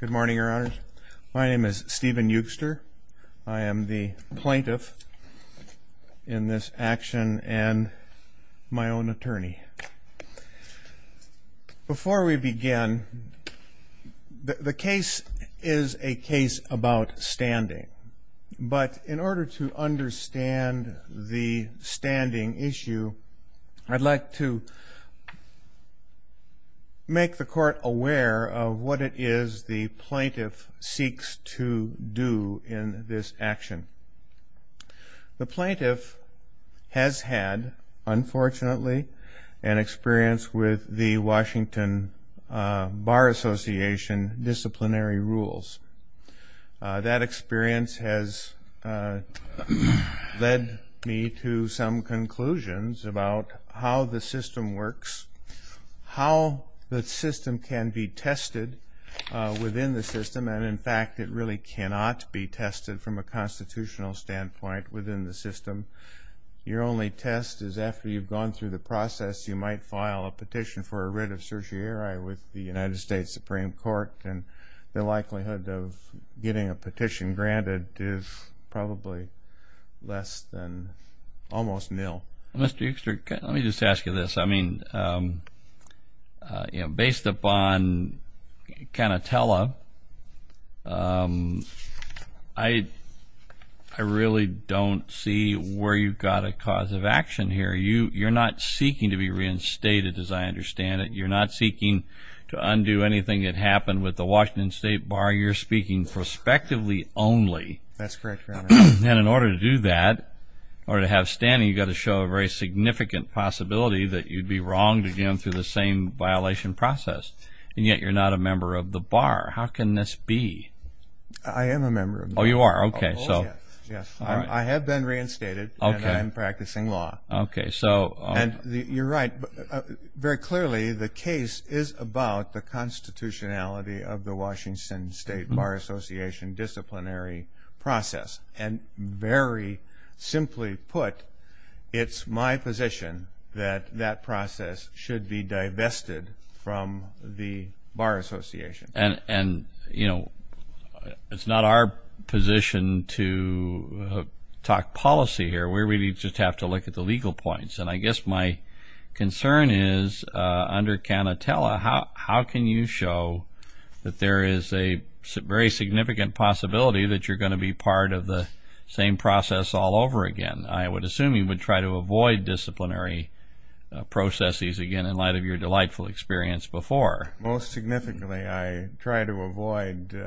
Good morning, Your Honors. My name is Stephen Eugster. I am the plaintiff in this action and my own attorney. Before we begin, the case is a case about standing. But in order to understand the standing issue, I'd like to make the court aware of what it is the plaintiff seeks to do in this action. The plaintiff has had, unfortunately, an experience with the Washington Bar Association disciplinary rules. That experience has led me to some conclusions about how the system works, how the system can be tested within the system. And in fact, it really cannot be tested from a constitutional standpoint within the system. Your only test is after you've gone through the process, you might file a petition for a writ of certiorari with the United States Supreme Court and the likelihood of getting a petition granted is probably less than almost nil. Mr. Eugster, let me just ask you this. I mean, based upon Canatella, I really don't see where you've got a cause of action here. You're not seeking to be reinstated, as I understand it. You're not seeking to undo anything that happened with the Washington State Bar. You're speaking prospectively only. That's correct, Your Honor. And in order to do that, in order to have standing, you've got to show a very significant possibility that you'd be wrong to get him through the same violation process. And yet, you're not a member of the Bar. How can this be? I am a member of the Bar. Oh, you are? OK. Yes. I have been reinstated, and I'm practicing law. OK, so. And you're right. Very clearly, the case is about the constitutionality of the Washington State Bar Association disciplinary process. And very simply put, it's my position that that process should be divested from the Bar Association. And it's not our position to talk policy here. We really just have to look at the legal points. And I guess my concern is, under Canatella, how can you show that there is a very significant possibility that you're going to be part of the same process all over again? I would assume you would try to avoid disciplinary processes again, in light of your delightful experience before. Most significantly, I try to avoid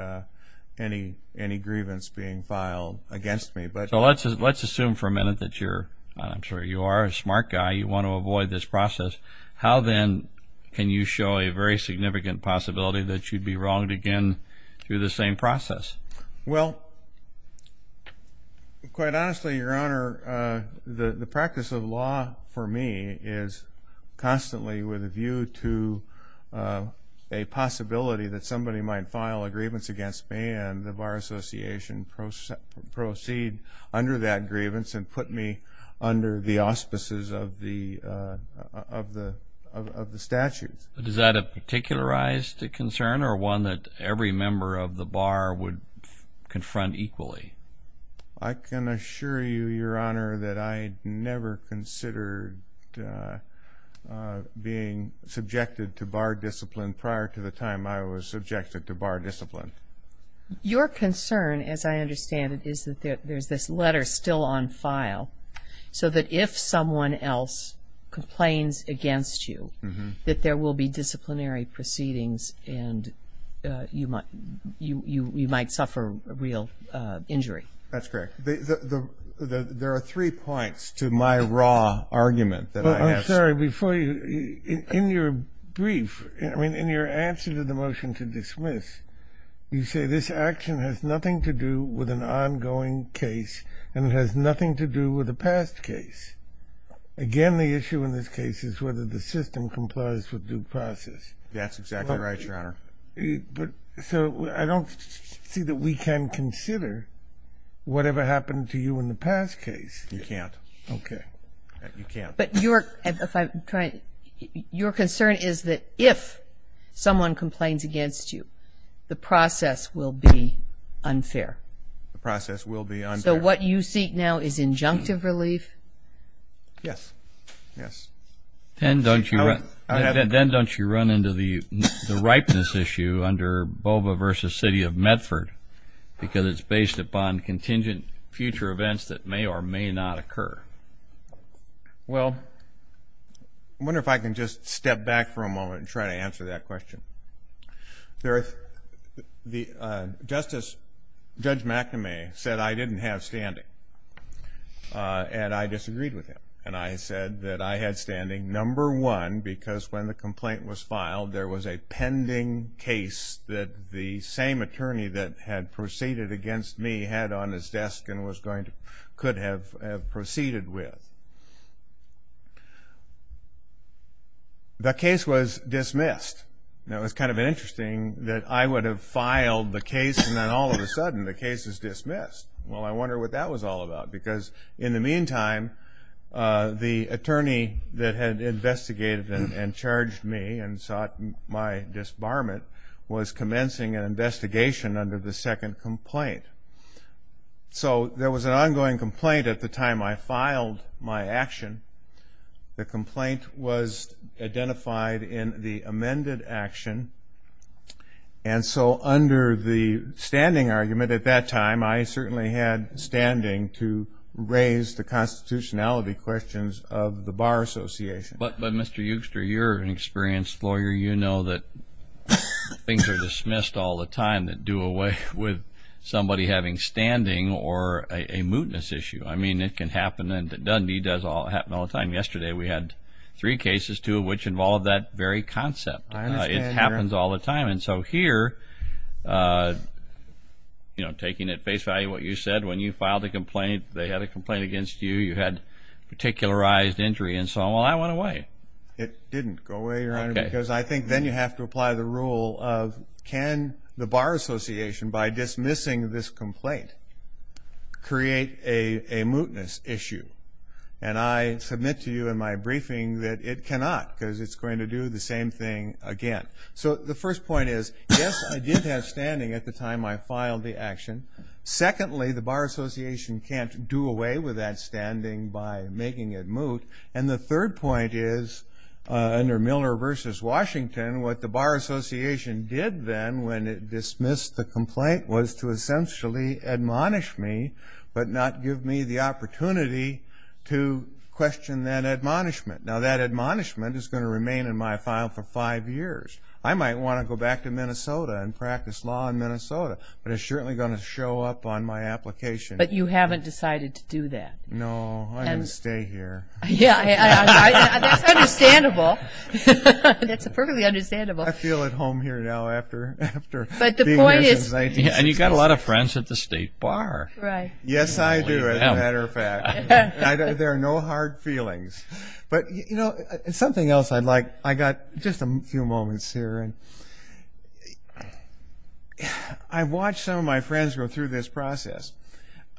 any grievance being filed against me. But. So let's assume for a minute that you're, I'm sure you are, a smart guy. You want to avoid this process. How then can you show a very significant possibility that you'd be wronged again through the same process? Well, quite honestly, Your Honor, the practice of law, for me, is constantly with a view to a possibility that somebody might file a grievance against me, and the Bar Association proceed under that grievance and put me under the auspices of the statutes. Is that a particularized concern, or one that every member of the Bar would confront equally? I can assure you, Your Honor, that I never considered being subjected to bar discipline prior to the time I was subjected to bar discipline. Your concern, as I understand it, is that there's this letter still on file, so that if someone else complains against you, that there will be disciplinary proceedings, and you might suffer real injury. That's correct. There are three points to my raw argument that I ask. I'm sorry, before you, in your brief, I mean, in your answer to the motion to dismiss, you say this action has nothing to do with an ongoing case, and it has nothing to do with a past case. Again, the issue in this case is whether the system complies with due process. That's exactly right, Your Honor. So I don't see that we can consider whatever happened to you in the past case. You can't. OK. You can't. But your concern is that if someone complains against you, the process will be unfair. The process will be unfair. So what you seek now is injunctive relief? Yes. Yes. Then don't you run into the ripeness issue under BOVA versus City of Medford, because it's based upon contingent future events that may or may not occur. Well, I wonder if I can just step back for a moment and try to answer that question. Justice Judge McNamee said I didn't have standing. And I disagreed with him. And I said that I had standing, number one, because when the complaint was filed, there was a pending case that the same attorney that had proceeded against me had on his desk and could have proceeded with. The case was dismissed. And it was kind of interesting that I would have filed the case, and then all of a sudden, the case is dismissed. Well, I wonder what that was all about, because in the meantime, the attorney that had investigated and charged me and sought my disbarment was commencing an investigation under the second complaint. So there was an ongoing complaint at the time I filed my case. My action, the complaint was identified in the amended action. And so under the standing argument at that time, I certainly had standing to raise the constitutionality questions of the Bar Association. But Mr. Yougster, you're an experienced lawyer. You know that things are dismissed all the time that do away with somebody having standing or a mootness issue. I mean, it can happen. It does happen all the time. Yesterday, we had three cases, two of which involved that very concept. It happens all the time. And so here, taking at face value what you said, when you filed a complaint, they had a complaint against you. You had particularized injury. And so, well, that went away. It didn't go away, Your Honor, because I think then you have to apply the rule of, can the Bar Association, by dismissing this complaint, create a mootness issue? And I submit to you in my briefing that it cannot, because it's going to do the same thing again. So the first point is, yes, I did have standing at the time I filed the action. Secondly, the Bar Association can't do away with that standing by making it moot. And the third point is, under Miller versus Washington, what the Bar Association did then when it dismissed the complaint was to essentially admonish me, but not give me the opportunity to question that admonishment. Now, that admonishment is going to remain in my file for five years. I might want to go back to Minnesota and practice law in Minnesota, but it's certainly going to show up on my application. But you haven't decided to do that. No, I'm going to stay here. Yeah, that's understandable. That's perfectly understandable. I feel at home here now after being here since 1966. And you've got a lot of friends at the state bar. Yes, I do, as a matter of fact. There are no hard feelings. But something else I'd like, I got just a few moments here. I've watched some of my friends go through this process.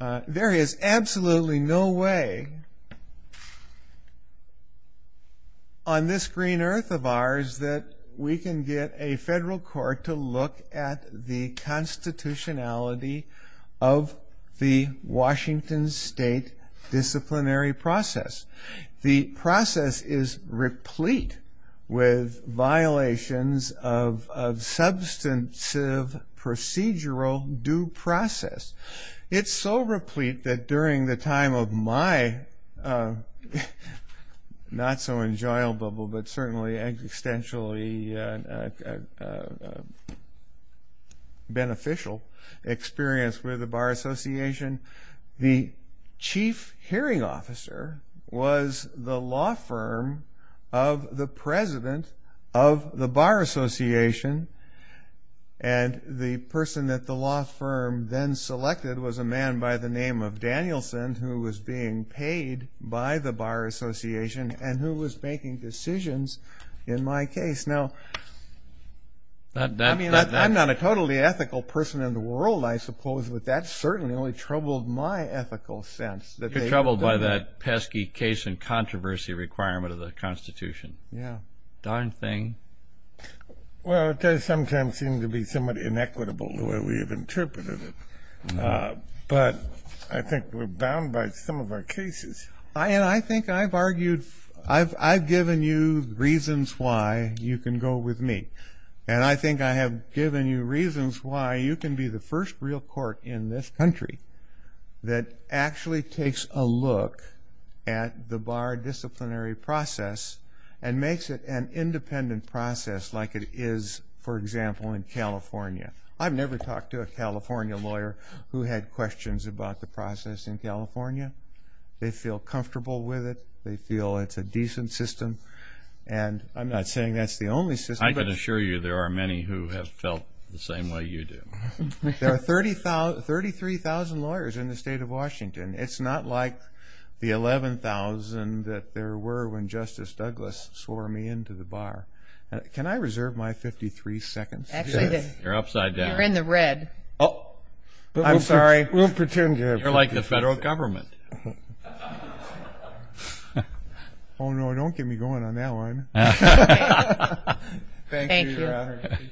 There is absolutely no way on this green earth of ours that we can get a federal court to look at the constitutionality of the Washington state disciplinary process. The process is replete with violations of substantive procedural due process. It's so replete that during the time of my not so enjoyable, but certainly extensionally beneficial experience with the Bar Association, the chief hearing officer was the law firm of the president of the Bar Association. And the person that the law firm then selected was a man by the name of Danielson, who was being paid by the Bar Association and who was making decisions in my case. Now, I'm not a totally ethical person in the world, I suppose. But that certainly only troubled my ethical sense. You're troubled by that pesky case and controversy requirement of the Constitution. Yeah. Darn thing. Well, it does sometimes seem to be somewhat inequitable the way we have interpreted it. But I think we're bound by some of our cases. And I think I've argued, I've given you reasons why you can go with me. And I think I have given you reasons why you can be the first real court in this country that actually takes a look at the Bar disciplinary process and makes it an independent process like it is, for example, in California. I've never talked to a California lawyer who had questions about the process in California. They feel comfortable with it. They feel it's a decent system. And I'm not saying that's the only system. I can assure you there are many who have felt the same way you do. There are 33,000 lawyers in the state of Washington. It's not like the 11,000 that there were when Justice Douglas swore me into the Bar. Can I reserve my 53 seconds? Actually, you're upside down. You're in the red. Oh. I'm sorry. We'll pretend to have. You're like the federal government. Oh, no, don't get me going on that one. Thank you, Your Honor. I appreciate it.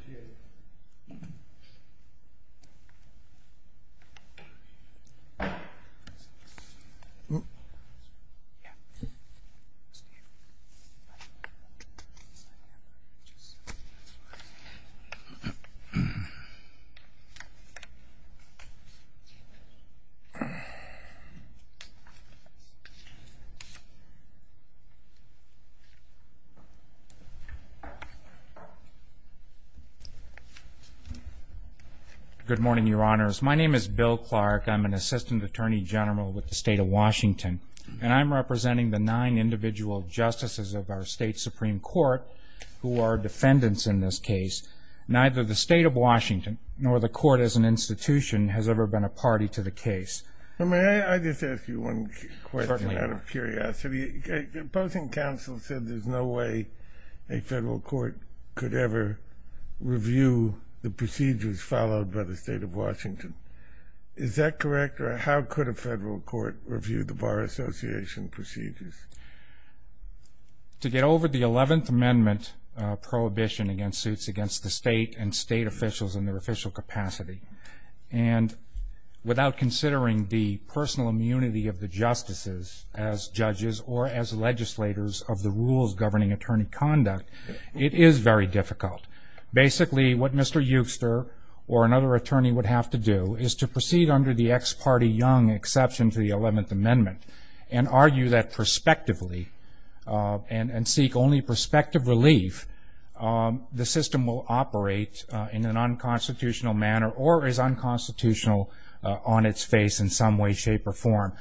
OK. Good morning, Your Honors. My name is Bill Clark. I'm an Assistant Attorney General with the state of Washington. And I'm representing the nine individual justices of our state Supreme Court who are defendants in this case. Neither the state of Washington nor the court as an institution has ever been a party to the case. Well, may I just ask you one question out of curiosity? Opposing counsel said there's no way a federal court could ever review the procedures followed by the state of Washington. Is that correct? Or how could a federal court review the Bar Association procedures? To get over the 11th Amendment prohibition against suits against the state and state officials in their official capacity. And without considering the personal immunity of the justices as judges or as legislators of the rules governing attorney conduct, it is very difficult. Basically, what Mr. Euster or another attorney would have to do is to proceed under the ex parte young exception to the 11th Amendment and argue that prospectively and seek only prospective relief, the system will operate in a non-constitutional manner or is unconstitutional on its face in some way, shape, or form.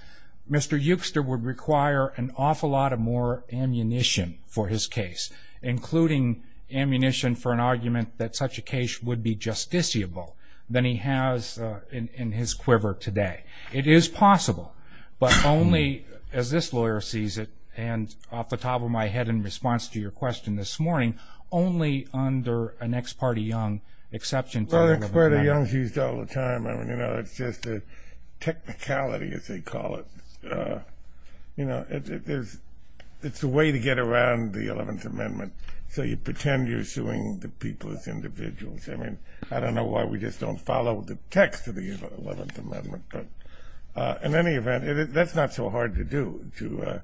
Mr. Euster would require an awful lot of more ammunition for his case, including ammunition for an argument that such a case would be justiciable than he has in his quiver today. It is possible, but only as this lawyer sees it and off the top of my head in response to your question this morning, only under an ex parte young exception to the 11th Amendment. Well, ex parte young is used all the time. It's just a technicality, as they call it. It's a way to get around the 11th Amendment. So you pretend you're suing the people as individuals. I mean, I don't know why we just don't follow the text of the 11th Amendment. But in any event, that's not so hard to do, to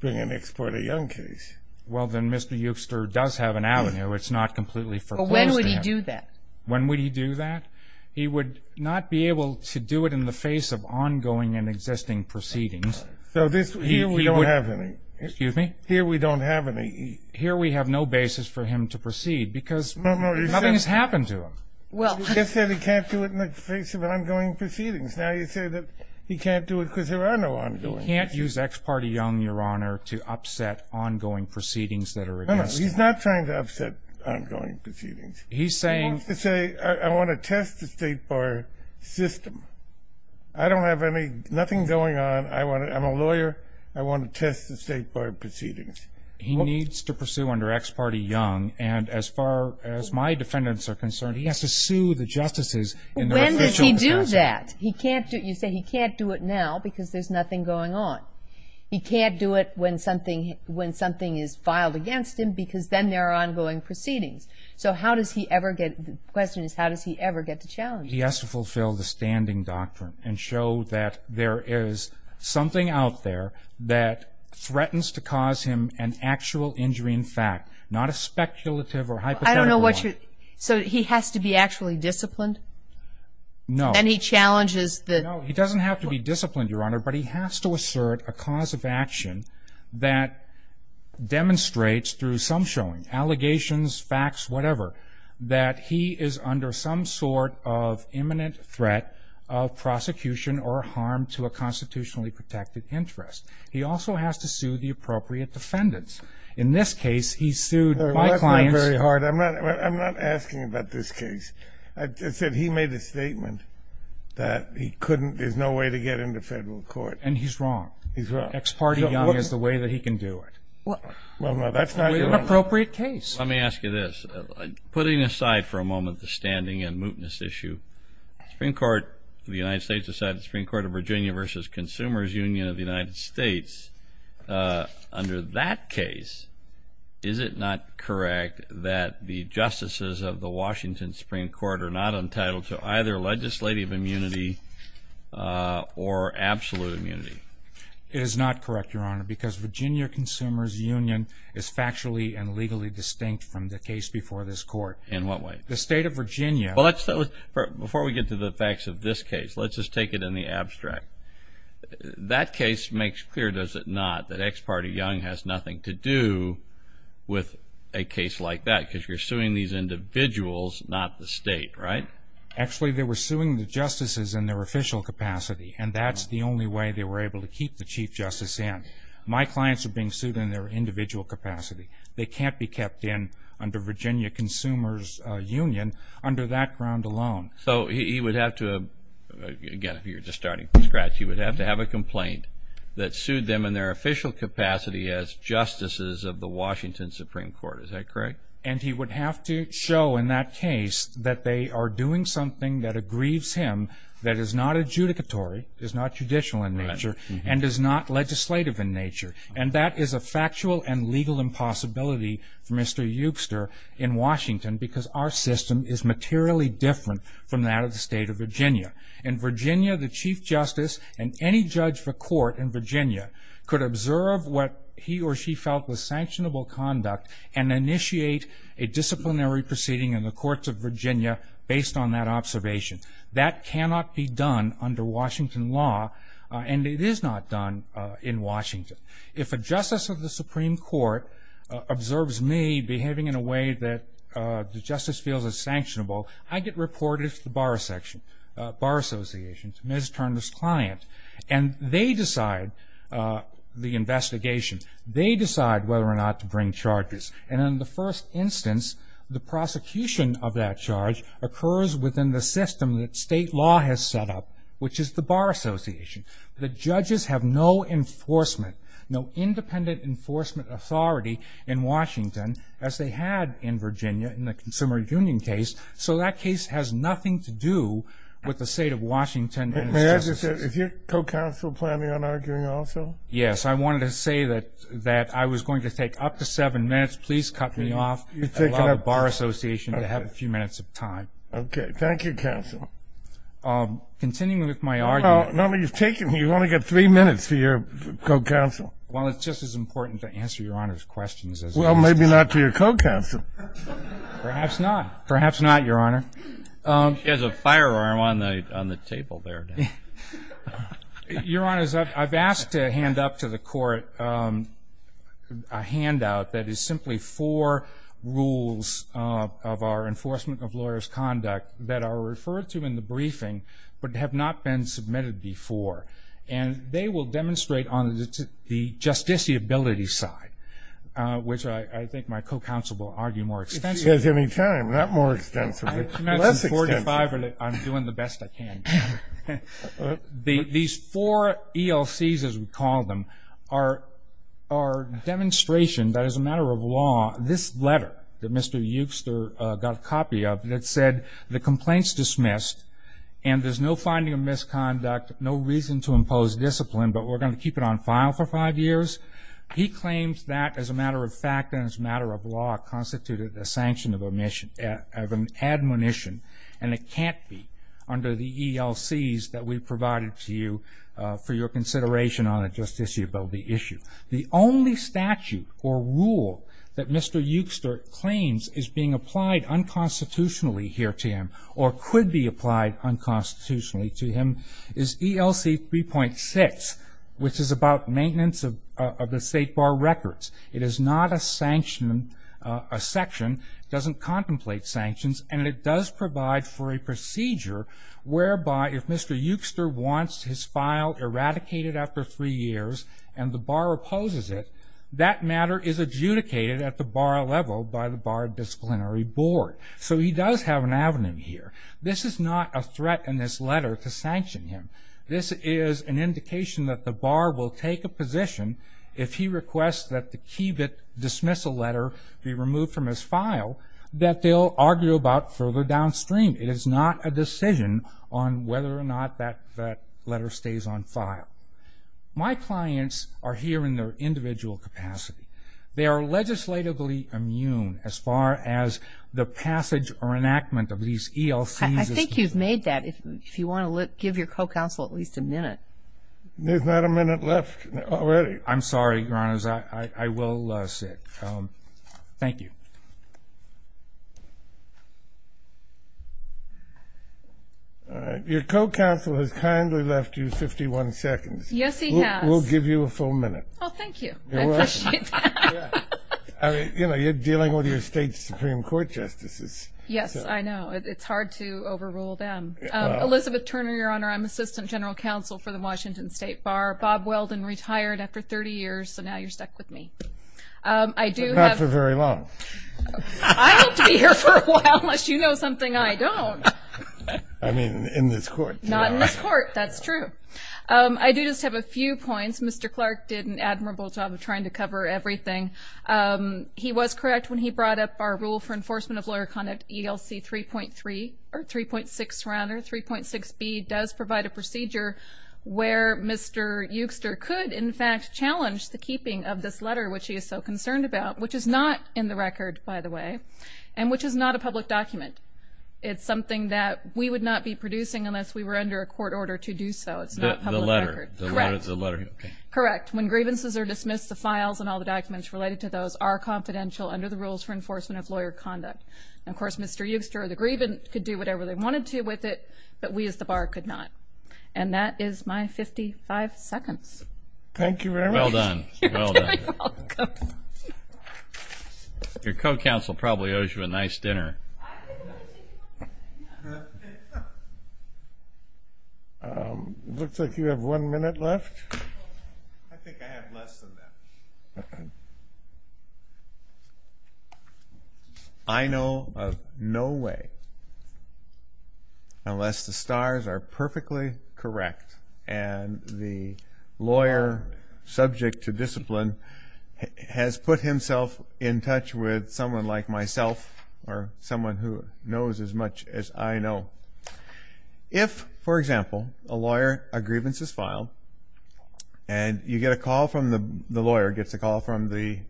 bring an ex parte young case. Well, then Mr. Euster does have an avenue. It's not completely foreclosed. But when would he do that? When would he do that? He would not be able to do it in the face of ongoing and existing proceedings. So here we don't have any. Excuse me? Here we don't have any. Here we have no basis for him to proceed, because nothing has happened to him. Well, you just said he can't do it in the face of ongoing proceedings. Now you say that he can't do it because there are no ongoing. He can't use ex parte young, Your Honor, to upset ongoing proceedings that are existing. No, no, he's not trying to upset ongoing proceedings. He's saying? He wants to say, I want to test the state bar system. I don't have any, nothing going on. I'm a lawyer. I want to test the state bar proceedings. He needs to pursue under ex parte young. And as far as my defendants are concerned, he has to sue the justices in the official process. When does he do that? He can't do it. You say he can't do it now because there's nothing going on. He can't do it when something is filed against him, because then there are ongoing proceedings. So how does he ever get, the question is, how does he ever get to challenge? He has to fulfill the standing doctrine and show that there is something out there that threatens to cause him an actual injury in fact, not a speculative or hypothetical one. I don't know what you, so he has to be actually disciplined? No. And he challenges the? No, he doesn't have to be disciplined, Your Honor, but he has to assert a cause of action that demonstrates through some showing, allegations, facts, whatever, that he is under some sort of imminent threat of prosecution or harm to a constitutionally protected interest. He also has to sue the appropriate defendants. In this case, he sued my clients. That's not very hard. I'm not asking about this case. I said he made a statement that he couldn't, there's no way to get into federal court. And he's wrong. He's wrong. Ex parte young is the way that he can do it. Well, no, that's not your? Appropriate case. Let me ask you this. Putting aside for a moment the standing and mootness issue, Supreme Court of the United States decided the Supreme Court of Virginia versus Consumers Union of the United States. Under that case, is it not correct that the justices of the Washington Supreme Court are not entitled to either legislative immunity or absolute immunity? It is not correct, Your Honor, because Virginia Consumers Union is factually and legally distinct from the case before this court. In what way? The state of Virginia. Before we get to the facts of this case, let's just take it in the abstract. That case makes clear, does it not, that ex parte young has nothing to do with a case like that. Because you're suing these individuals, not the state, right? Actually, they were suing the justices in their official capacity. And that's the only way they were able to keep the chief justice in. My clients are being sued in their individual capacity. They can't be kept in under Virginia Consumers Union under that ground alone. So he would have to, again, if you're just starting from scratch, he would have to have a complaint that sued them in their official capacity as justices of the Washington Supreme Court. Is that correct? And he would have to show in that case that they are doing something that aggrieves him, that is not adjudicatory, is not judicial in nature, and is not legislative in nature. And that is a factual and legal impossibility for Mr. Eubster in Washington, because our system is materially different from that of the state of Virginia. In Virginia, the chief justice and any judge for court in Virginia could observe what he or she felt was sanctionable conduct and initiate a disciplinary proceeding in the courts of Virginia based on that observation. That cannot be done under Washington law. And it is not done in Washington. If a justice of the Supreme Court observes me behaving in a way that the justice feels is sanctionable, I get reported to the bar section, bar association, to Ms. Turner's client. And they decide the investigation. They decide whether or not to bring charges. And in the first instance, the prosecution of that charge occurs within the system that state law has set up, which is the bar association. The judges have no enforcement, no independent enforcement authority in Washington as they had in Virginia in the Consumer Union case. So that case has nothing to do with the state of Washington and its judges. If you're co-counsel planning on arguing also? Yes, I wanted to say that I was going to take up to seven minutes. Please cut me off, allow the bar association to have a few minutes of time. Okay, thank you, counsel. Continuing with my argument. No, no, you've taken, you've only got three minutes for your co-counsel. Well, it's just as important to answer Your Honor's questions as it is. Well, maybe not to your co-counsel. Perhaps not. Perhaps not, Your Honor. He has a firearm on the table there. Your Honor, I've asked to hand up to the court a handout that is simply four rules of our enforcement of lawyer's conduct that are referred to in the briefing but have not been submitted before. And they will demonstrate on the justiciability side, which I think my co-counsel will argue more extensively. She has any time, not more extensively, less extensively. I'm doing the best I can. These four ELCs, as we call them, are a demonstration that as a matter of law, this letter that Mr. Euster got a copy of that said the complaint's dismissed and there's no finding of misconduct, no reason to impose discipline, but we're gonna keep it on file for five years. He claims that as a matter of fact and as a matter of law, constituted a sanction of admonition. And it can't be under the ELCs that we provided to you for your consideration on a justiciability issue. The only statute or rule that Mr. Euster claims is being applied unconstitutionally here to him or could be applied unconstitutionally to him is ELC 3.6, which is about maintenance of the state bar records. It is not a sanction, a section, doesn't contemplate sanctions, and it does provide for a procedure whereby if Mr. Euster wants his file eradicated after three years and the bar opposes it, that matter is adjudicated at the bar level by the bar disciplinary board. So he does have an avenue here. This is not a threat in this letter to sanction him. This is an indication that the bar will take a position if he requests that the key that dismiss a letter be removed from his file that they'll argue about further downstream. It is not a decision on whether or not that letter stays on file. My clients are here in their individual capacity. They are legislatively immune as far as the passage or enactment of these ELCs. I think you've made that. If you want to look, give your co-counsel at least a minute. There's not a minute left already. I'm sorry, Your Honors, I will sit. Thank you. All right, your co-counsel has kindly left you 51 seconds. Yes, he has. We'll give you a full minute. Oh, thank you. You're welcome. I appreciate that. I mean, you know, you're dealing with your state's Supreme Court justices. Yes, I know. It's hard to overrule them. Elizabeth Turner, Your Honor, I'm Assistant General Counsel for the Washington State Bar. Bob Weldon retired after 30 years, so now you're stuck with me. I do have- Not for very long. I hope to be here for a while unless you know something I don't. I mean, in this court. Not in this court, that's true. I do just have a few points. Mr. Clark did an admirable job of trying to cover everything. He was correct when he brought up our Rule for Enforcement of Lawyer Conduct, ELC 3.3, or 3.6, rather. 3.6b does provide a procedure where Mr. Euster could, in fact, challenge the keeping of this letter, which he is so concerned about, which is not in the record, by the way, and which is not a public document. It's something that we would not be producing unless we were under a court order to do so. It's not public record. The letter. Correct. Correct. When grievances are dismissed, the files and all the documents related to those are confidential under the Rules for Enforcement of Lawyer Conduct. Of course, Mr. Euster or the grievant could do whatever they wanted to with it, but we as the bar could not. And that is my 55 seconds. Thank you very much. Well done, well done. You're very welcome. Your co-counsel probably owes you a nice dinner. I think I'm gonna take a look at that. Looks like you have one minute left. I think I have less than that. I know of no way, unless the stars are perfectly correct and the lawyer, subject to discipline, has put himself in touch with someone like myself or someone who knows as much as I know. If, for example, a lawyer, a grievance is filed and you get a call from the lawyer, gets a call from the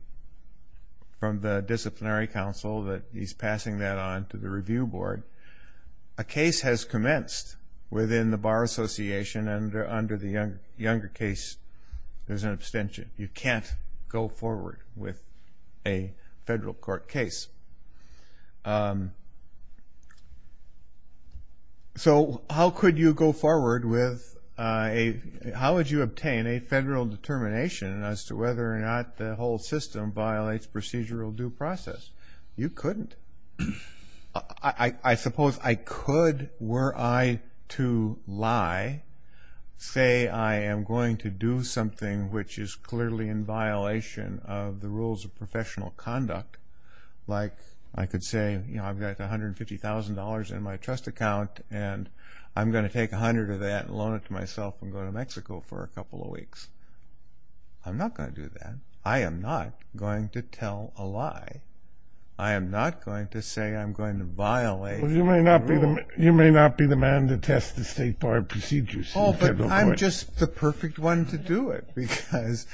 disciplinary counsel that he's passing that on to the review board, a case has commenced within the Bar Association and under the younger case, there's an abstention. You can't go forward with a federal court case. So how could you go forward with a, how would you obtain a federal determination as to whether or not the whole system violates procedural due process? You couldn't. I suppose I could, were I to lie, say I am going to do something which is clearly in violation of the rules of professional conduct, like I could say, you know, I've got $150,000 in my trust account and I'm going to take 100 of that and loan it to myself and go to Mexico for a couple of weeks. I'm not going to do that. I am not going to tell a lie. I am not going to say I'm going to violate the rule. You may not be the man to test the state bar procedures in the federal court. Oh, but I'm just the perfect one to do it because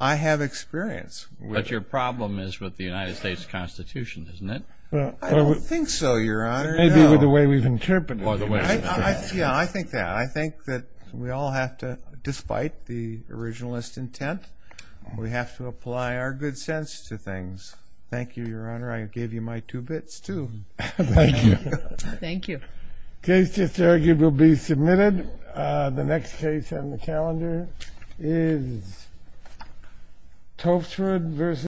I have experience. But your problem is with the United States Constitution, isn't it? I don't think so, Your Honor. Maybe with the way we've interpreted it. Yeah, I think that. I think that we all have to, despite the originalist intent, we have to apply our good sense to things. Thank you, Your Honor. I gave you my two bits, too. Thank you. Thank you. Case just argued will be submitted. The next case on the calendar is Toftswood versus Collingwood.